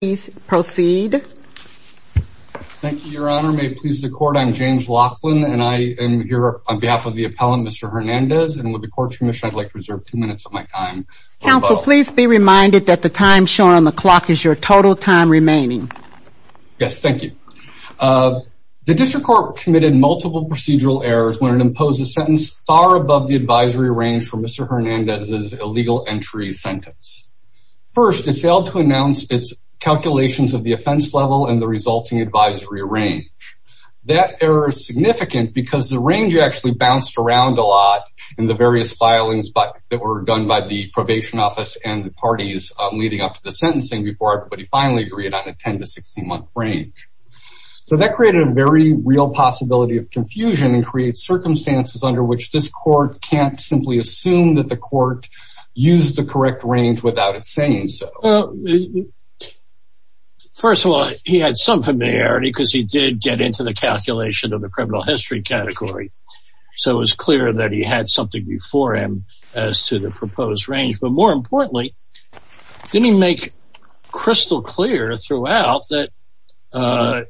please proceed. Thank you your honor may it please the court I'm James Laughlin and I am here on behalf of the appellant Mr. Hernandez and with the court's permission I'd like to reserve two minutes of my time. Counsel please be reminded that the time shown on the clock is your total time remaining. Yes thank you. The district court committed multiple procedural errors when it imposed a sentence far above the advisory range for Mr. Hernandez's calculations of the offense level and the resulting advisory range. That error is significant because the range actually bounced around a lot in the various filings but that were done by the probation office and the parties leading up to the sentencing before everybody finally agreed on a 10 to 16 month range. So that created a very real possibility of confusion and creates circumstances under which this court can't simply assume that the court used the correct range without it saying so. First of all he had some familiarity because he did get into the calculation of the criminal history category so it was clear that he had something before him as to the proposed range but more importantly didn't make crystal clear throughout that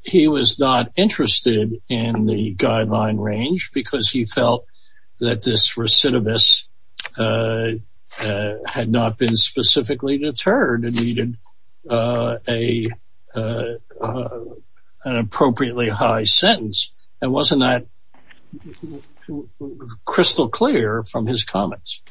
he was not interested in the guideline range because he felt that this recidivist had not been specifically deterred and needed a an appropriately high sentence and wasn't that crystal clear from his comments?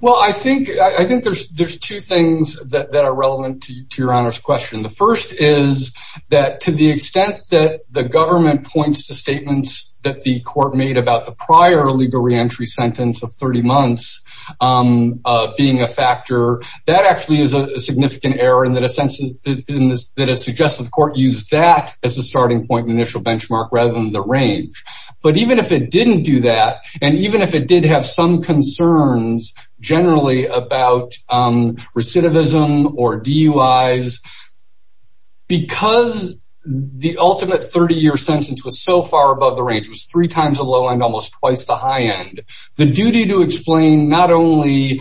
Well I think I think there's there's two things that are relevant to your honor's question. The first is that to the extent that the government points to statements that the court made about the prior legal re-entry sentence of 30 months being a factor that actually is a significant error and that a census that has suggested the court used that as a starting point initial benchmark rather than the range. But even if it didn't do that and even if it did have some concerns generally about recidivism or 30-year sentence was so far above the range was three times a low and almost twice the high end the duty to explain not only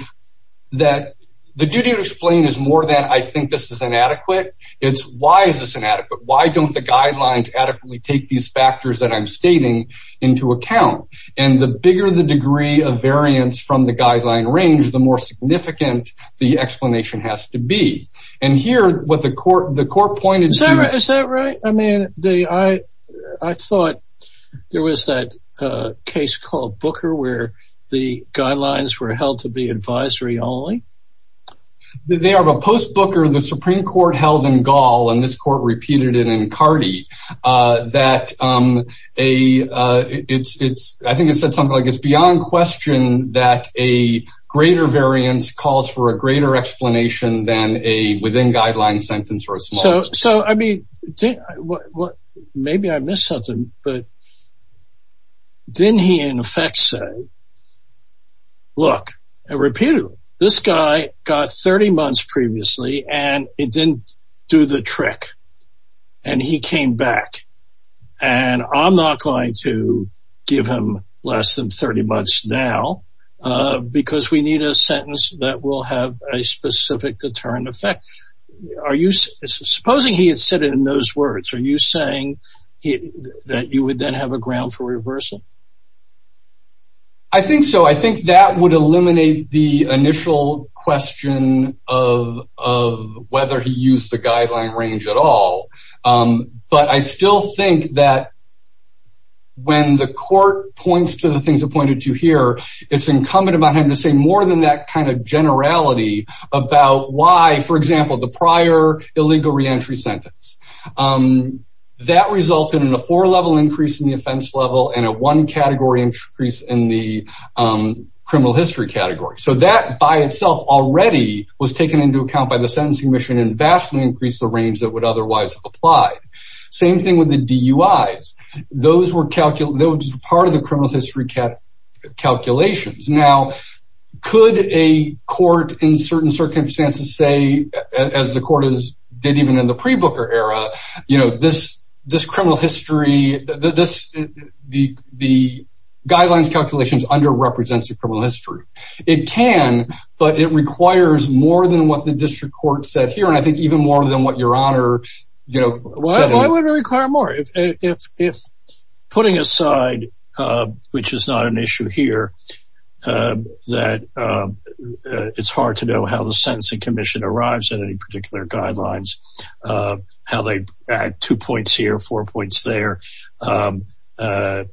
that the duty to explain is more than I think this is inadequate it's why is this inadequate why don't the guidelines adequately take these factors that I'm stating into account and the bigger the degree of variance from the guideline range the more significant the explanation has to be and here what the court the court Is that right? I mean I thought there was that case called Booker where the guidelines were held to be advisory only? They are but post Booker the Supreme Court held in Gaul and this court repeated it in Cardi that a it's it's I think it said something like it's beyond question that a greater variance calls for a greater explanation than a within guideline sentence or so so I mean what what maybe I missed something but didn't he in effect say look I repeated this guy got 30 months previously and it didn't do the trick and he came back and I'm not going to give him less than 30 months now because we need a sentence that will have a specific deterrent effect are you supposing he had said in those words are you saying he that you would then have a ground for reversal I think so I think that would eliminate the initial question of whether he used the guideline range at all but I still think that when the court points to the things appointed to here it's incumbent about him to say more than that kind of generality about why for example the prior illegal re-entry sentence that resulted in a four level increase in the offense level and a one category increase in the criminal history category so that by itself already was taken into account by the sentencing mission and vastly increase the range that would otherwise apply same thing with the DUI's those were calculated those part of the criminal history cap calculations now could a court in certain circumstances say as the court is did even in the pre-booker era you know this this criminal history that this the the guidelines calculations under represents a criminal history it can but it requires more than what the district court said here and I think even more than what your honor you know I would require more if putting aside which is not an issue here that it's hard to know how the sentencing Commission arrives at any particular guidelines how they add two points here four points there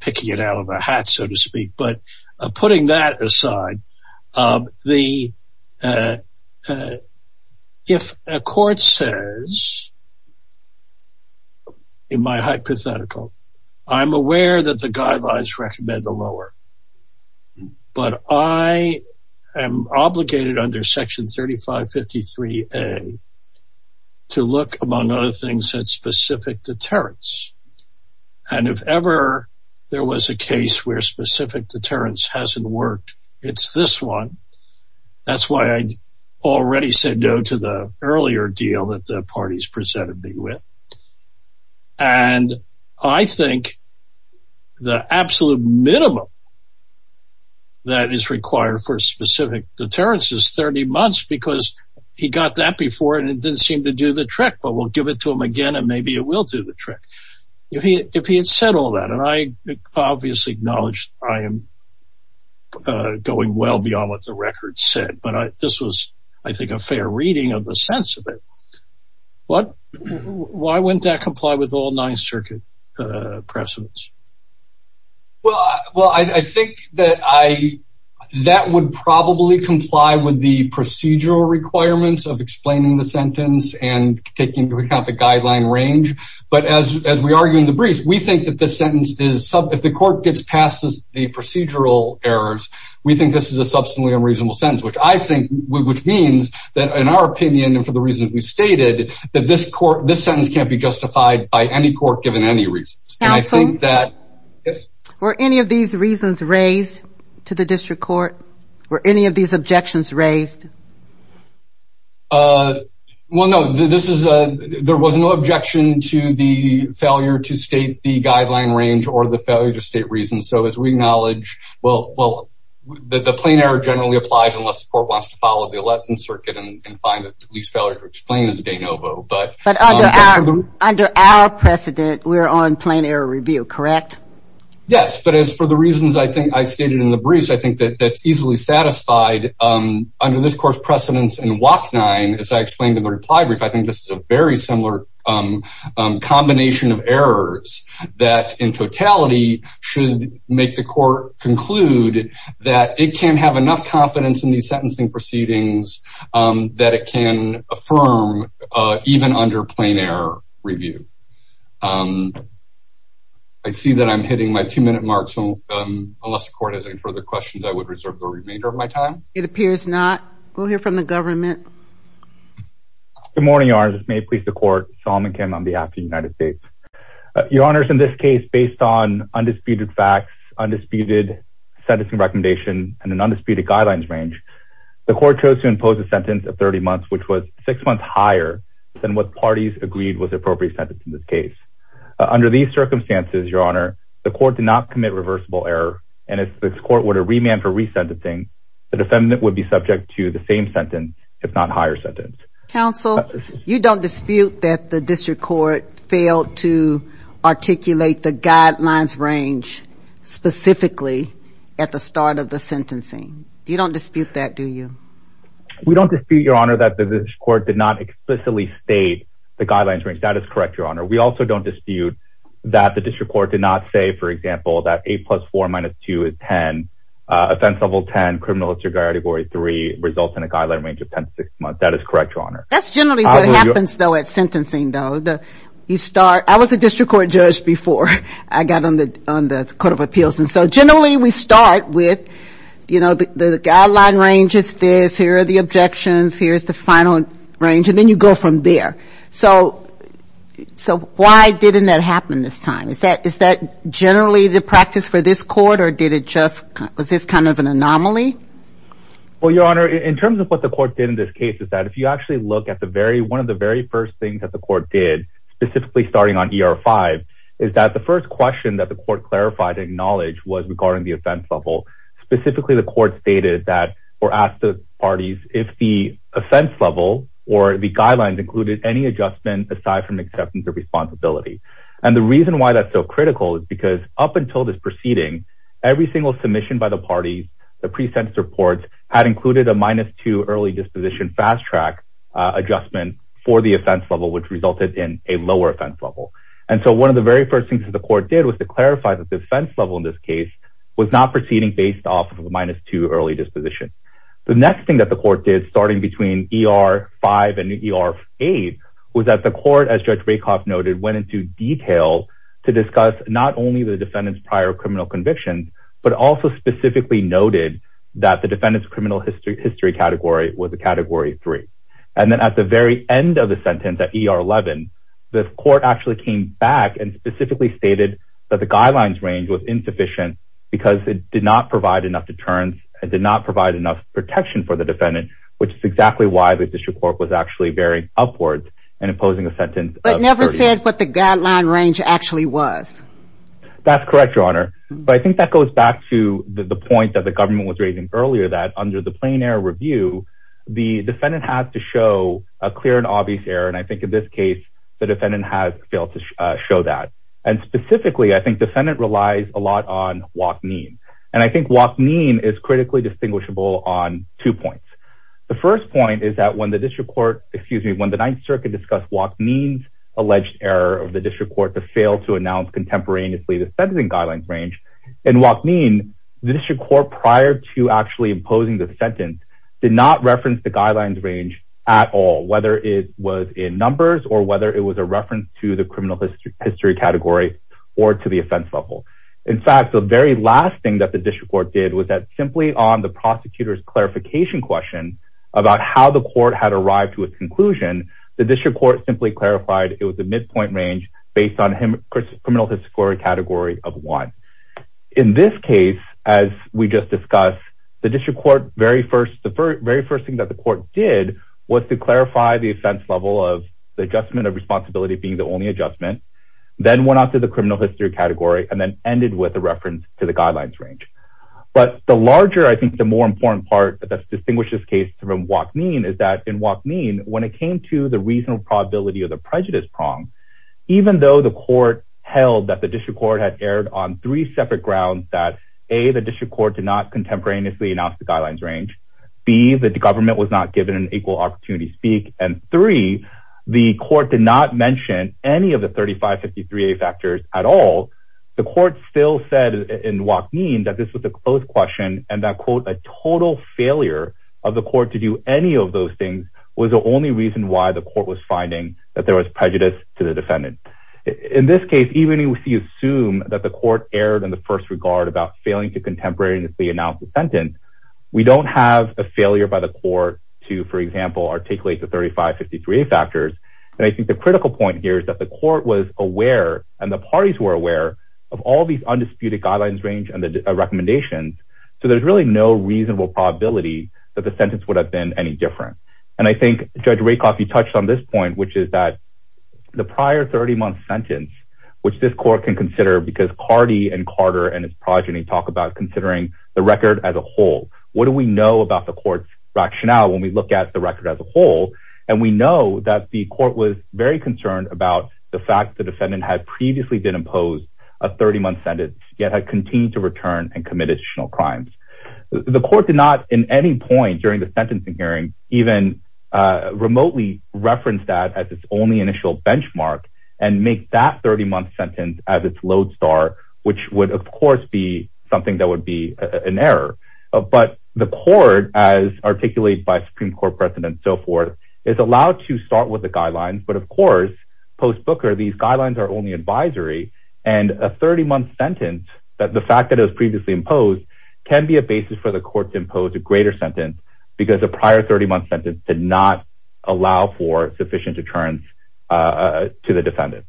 picking it out of a in my hypothetical I'm aware that the guidelines recommend the lower but I am obligated under section 3553 a to look among other things that specific deterrence and if ever there was a case where specific deterrence hasn't worked it's this one that's why I already said no to the earlier deal that the parties presented me with and I think the absolute minimum that is required for specific deterrence is 30 months because he got that before and it didn't seem to do the trick but we'll give it to him again and maybe it will do the trick if he if he had said all that and I obviously acknowledged I am going well beyond what the record said but I this was I think a fair reading of the sense what why wouldn't that comply with all nine circuit precedents well well I think that I that would probably comply with the procedural requirements of explaining the sentence and taking to account the guideline range but as we argue in the briefs we think that this sentence is sub if the court gets past as the procedural errors we think this is a substantially unreasonable sentence which I think which means that in our opinion and for the reasons we stated that this court this sentence can't be justified by any court given any reason I think that if or any of these reasons raised to the district court or any of these objections raised well no this is a there was no objection to the failure to state the guideline range or the failure to state reason so as we acknowledge well the plain error generally applies unless the court wants to follow the election circuit and find that at least failure to explain as de novo but under our precedent we're on plain error review correct yes but as for the reasons I think I stated in the briefs I think that that's easily satisfied under this course precedents and walk nine as I explained in the reply brief I think this is a very similar combination of errors that in totality should make the court conclude that it can have enough confidence in these sentencing proceedings that it can affirm even under plain error review I see that I'm hitting my two-minute mark so unless the court has any further questions I would reserve the remainder of my time it appears not we'll hear from the government good morning arms may please the court Solomon Kim on behalf of the United States your honors in this case based on undisputed facts undisputed sentencing recommendation and an undisputed guidelines range the court chose to impose a sentence of 30 months which was six months higher than what parties agreed was appropriate sentence in this case under these circumstances your honor the court did not commit reversible error and it's the court would a remand for resent a thing the defendant would be subject to the same sentence if not higher sentence counsel you don't dispute that the district court failed to articulate the guidelines range specifically at the start of the sentencing you don't dispute that do you we don't dispute your honor that the court did not explicitly state the guidelines range that is correct your honor we also don't dispute that the district court did not say for example that a plus 4 minus 2 is 10 offense level 10 criminal disregard degree 3 results in a guideline range of 10 to 6 months that is correct your honor that's generally what happens though at sentencing though the you start I was a district court judge before I got on the Court of Appeals and so generally we start with you know the guideline range is this here are the objections here's the final range and then you go from there so so why didn't that happen this time is that is that generally the practice for this court or did it just was this kind of an anomaly well your honor in terms of what the court did in this case is that if you actually look at the very one of the very first things that the court did specifically starting on ER 5 is that the first question that the court clarified acknowledged was regarding the offense level specifically the court stated that or asked the parties if the offense level or the guidelines included any adjustment aside from acceptance or responsibility and the reason why that's so critical is because up until this proceeding every single submission by the parties the pre-sentence reports had included a minus 2 early disposition fast-track adjustment for the offense level which resulted in a lower offense level and so one of the very first things that the court did was to clarify the defense level in this case was not proceeding based off of a minus 2 early disposition the next thing that the court did starting between ER 5 and ER 8 was that the court as Judge Rakoff noted went into detail to discuss not only the defendants prior criminal convictions but also specifically noted that the and then at the very end of the sentence at ER 11 the court actually came back and specifically stated that the guidelines range was insufficient because it did not provide enough deterrence it did not provide enough protection for the defendant which is exactly why the district court was actually very upwards and imposing a sentence but never said what the guideline range actually was that's correct your honor but I think that goes back to the point that the government was raising earlier that under the a clear and obvious error and I think in this case the defendant has failed to show that and specifically I think the Senate relies a lot on walk mean and I think walk mean is critically distinguishable on two points the first point is that when the district court excuse me when the 9th Circuit discussed walk means alleged error of the district court to fail to announce contemporaneously the sentencing guidelines range and walk mean the district court prior to actually imposing the sentence did not reference the guidelines range at all whether it was in numbers or whether it was a reference to the criminal history category or to the offense level in fact the very last thing that the district court did was that simply on the prosecutor's clarification question about how the court had arrived to a conclusion the district court simply clarified it was a midpoint range based on him criminal history category of one in this case as we just discussed the very first thing that the court did was to clarify the offense level of the adjustment of responsibility being the only adjustment then went out to the criminal history category and then ended with a reference to the guidelines range but the larger I think the more important part that's distinguished this case from walk mean is that in walk mean when it came to the reasonable probability of the prejudice prong even though the court held that the district court had erred on three separate grounds that a the district court did contemporaneously announced the guidelines range be that the government was not given an equal opportunity speak and three the court did not mention any of the 3553 a factors at all the court still said in walk mean that this was a closed question and that quote a total failure of the court to do any of those things was the only reason why the court was finding that there was prejudice to the defendant in this case even if you assume that the court erred in the first regard about failing to contemporaneously announce the sentence we don't have a failure by the court to for example articulate the 3553 a factors and I think the critical point here is that the court was aware and the parties were aware of all these undisputed guidelines range and the recommendations so there's really no reasonable probability that the sentence would have been any different and I think judge ray coffee touched on this point which is that the prior 30 month sentence which this court can consider because Cardi and Carter and his progeny talk about considering the record as a whole what do we know about the courts rationale when we look at the record as a whole and we know that the court was very concerned about the fact the defendant had previously been imposed a 30-month sentence yet had continued to return and committed additional crimes the court did not in any point during the sentencing hearing even remotely referenced that as its only initial benchmark and make that 30-month sentence as its lodestar which would of course be something that would be an error but the court as articulated by Supreme Court precedent so forth is allowed to start with the guidelines but of course post Booker these guidelines are only advisory and a 30-month sentence that the fact that it was previously imposed can be a basis for the court to impose a greater sentence because a prior 30-month sentence did not allow for sufficient deterrence to the defendant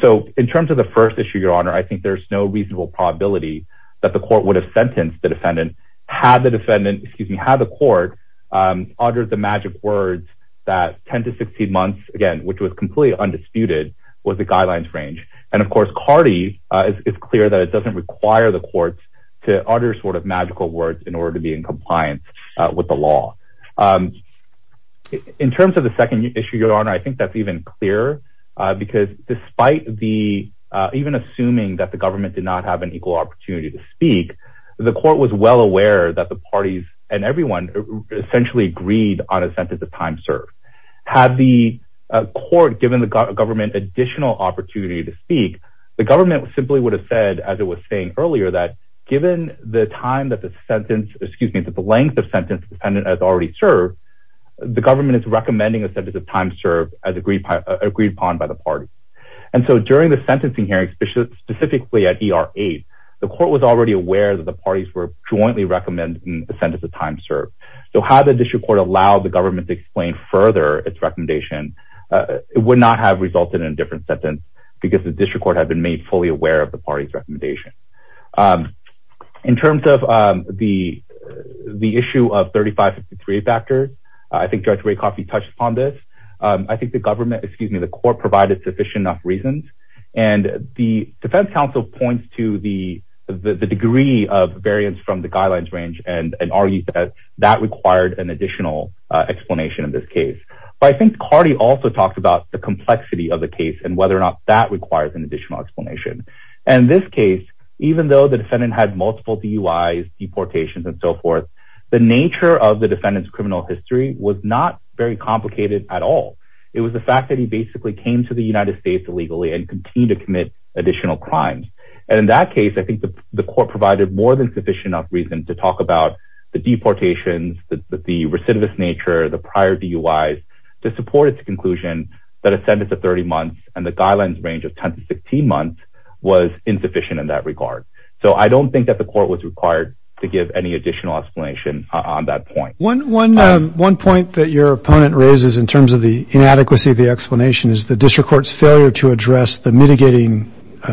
so in terms of the first issue your honor I think there's no reasonable probability that the court would have sentenced the defendant had the defendant excuse me how the court uttered the magic words that 10 to 16 months again which was completely undisputed was the guidelines range and of course Cardi is clear that it doesn't require the courts to utter sort of magical words in order to be in terms of the second issue your honor I think that's even clear because despite the even assuming that the government did not have an equal opportunity to speak the court was well aware that the parties and everyone essentially agreed on a sentence of time served had the court given the government additional opportunity to speak the government simply would have said as it was saying earlier that given the time that the sentence excuse me that the length of government is recommending a sentence of time served as agreed upon by the party and so during the sentencing hearing specifically at er8 the court was already aware that the parties were jointly recommending the sentence of time served so how the district court allowed the government to explain further its recommendation it would not have resulted in a different sentence because the district court had been made fully aware of the party's I think the government excuse me the court provided sufficient enough reasons and the defense counsel points to the the degree of variance from the guidelines range and argued that that required an additional explanation in this case but I think Cardi also talked about the complexity of the case and whether or not that requires an additional explanation and this case even though the defendant had multiple DUIs deportations and so forth the nature of the defendants criminal history was not very complicated at all it was the fact that he basically came to the United States illegally and continue to commit additional crimes and in that case I think the court provided more than sufficient enough reason to talk about the deportations that the recidivist nature the prior DUIs to support its conclusion that a sentence of 30 months and the guidelines range of 10 to 16 months was insufficient in that regard so I don't think that the court was required to give any additional explanation on that point one one one point that your opponent raises in terms of the inadequacy of the explanation is the district court's failure to address the mitigating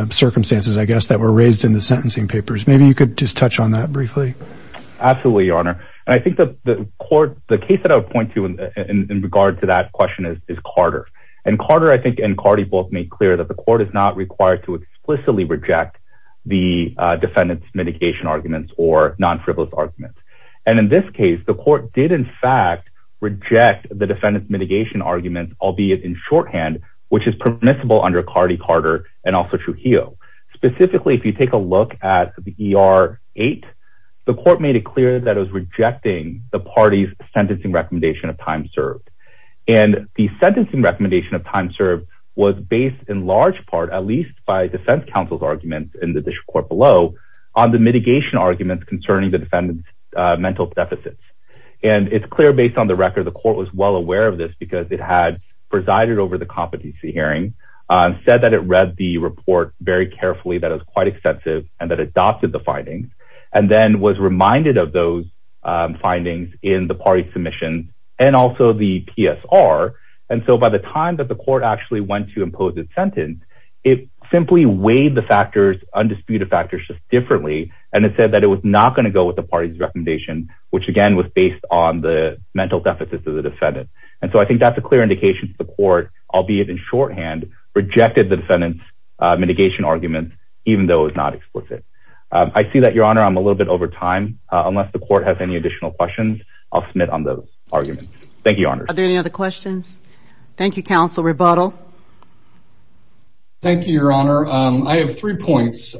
circumstances I guess that were raised in the sentencing papers maybe you could just touch on that briefly absolutely your honor and I think that the court the case that I would point to in regard to that question is Carter and Carter I think and Cardi both made clear that the court is not required to explicitly reject the defendants mitigation arguments or non and in this case the court did in fact reject the defendants mitigation arguments albeit in shorthand which is permissible under Cardi Carter and also Trujillo specifically if you take a look at the er8 the court made it clear that it was rejecting the party's sentencing recommendation of time served and the sentencing recommendation of time served was based in large part at least by defense counsel's arguments in the district court below on the mitigation arguments concerning the defendants mental deficits and it's clear based on the record the court was well aware of this because it had presided over the competency hearing said that it read the report very carefully that is quite extensive and that adopted the findings and then was reminded of those findings in the party submission and also the PSR and so by the time that the court actually went to impose its sentence it simply weighed the factors undisputed factors just differently and it said that it was not going to go with the party's recommendation which again was based on the mental deficits of the defendant and so I think that's a clear indication to the court I'll be it in shorthand rejected the defendants mitigation arguments even though it's not explicit I see that your honor I'm a little bit over time unless the court has any additional questions I'll submit on the argument thank you honor there any other questions Thank You counsel rebuttal Thank You Your Honor I have three points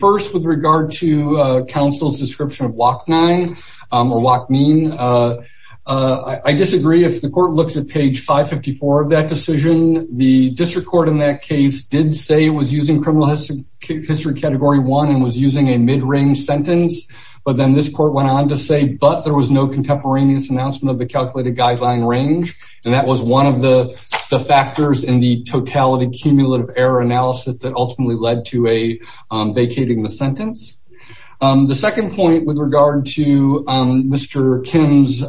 first with regard to counsel's description of walk nine or walk mean I disagree if the court looks at page 554 of that decision the district court in that case did say it was using criminal history category one and was using a mid-range sentence but then this court went on to say but there was no contemporaneous announcement of the calculated guideline range and that was one of the factors in the totality cumulative error analysis that ultimately led to a vacating the sentence the second point with regard to mr. Kim's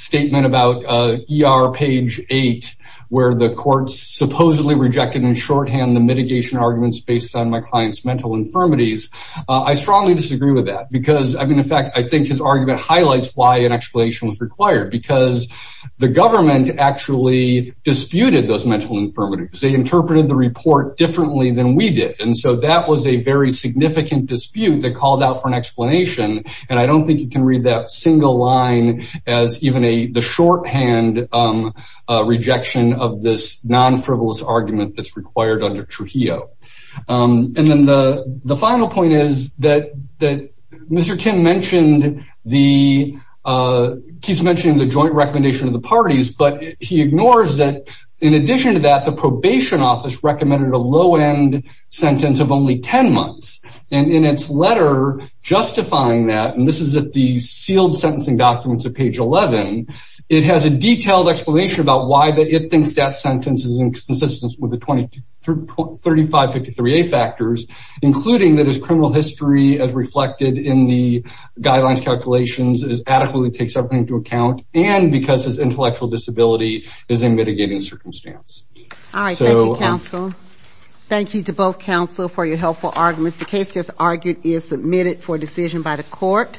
statement about er page 8 where the courts supposedly rejected in shorthand the mitigation arguments based on my clients mental infirmities I strongly disagree with that because I mean in fact I think his argument highlights why an explanation was required because the government actually disputed those mental infirmities they interpreted the report differently than we did and so that was a very significant dispute that called out for an explanation and I don't think you can read that single line as even a the shorthand rejection of this non-frivolous argument that's required under Trujillo and then the the final point is that that mr. Kim mentioned the keeps mentioning the joint recommendation of the parties but he ignores that in addition to that the probation office recommended a low-end sentence of only ten months and in its letter justifying that and this is at the sealed sentencing documents of page 11 it has a detailed explanation about why that it thinks death sentence is in consistence with the 20 to 35 53 a factors including that his criminal history as reflected in the guidelines calculations is adequately takes everything into account and because his intellectual disability is in mitigating circumstance so thank you to both counsel for your helpful arguments the case just argued is submitted for decision by the court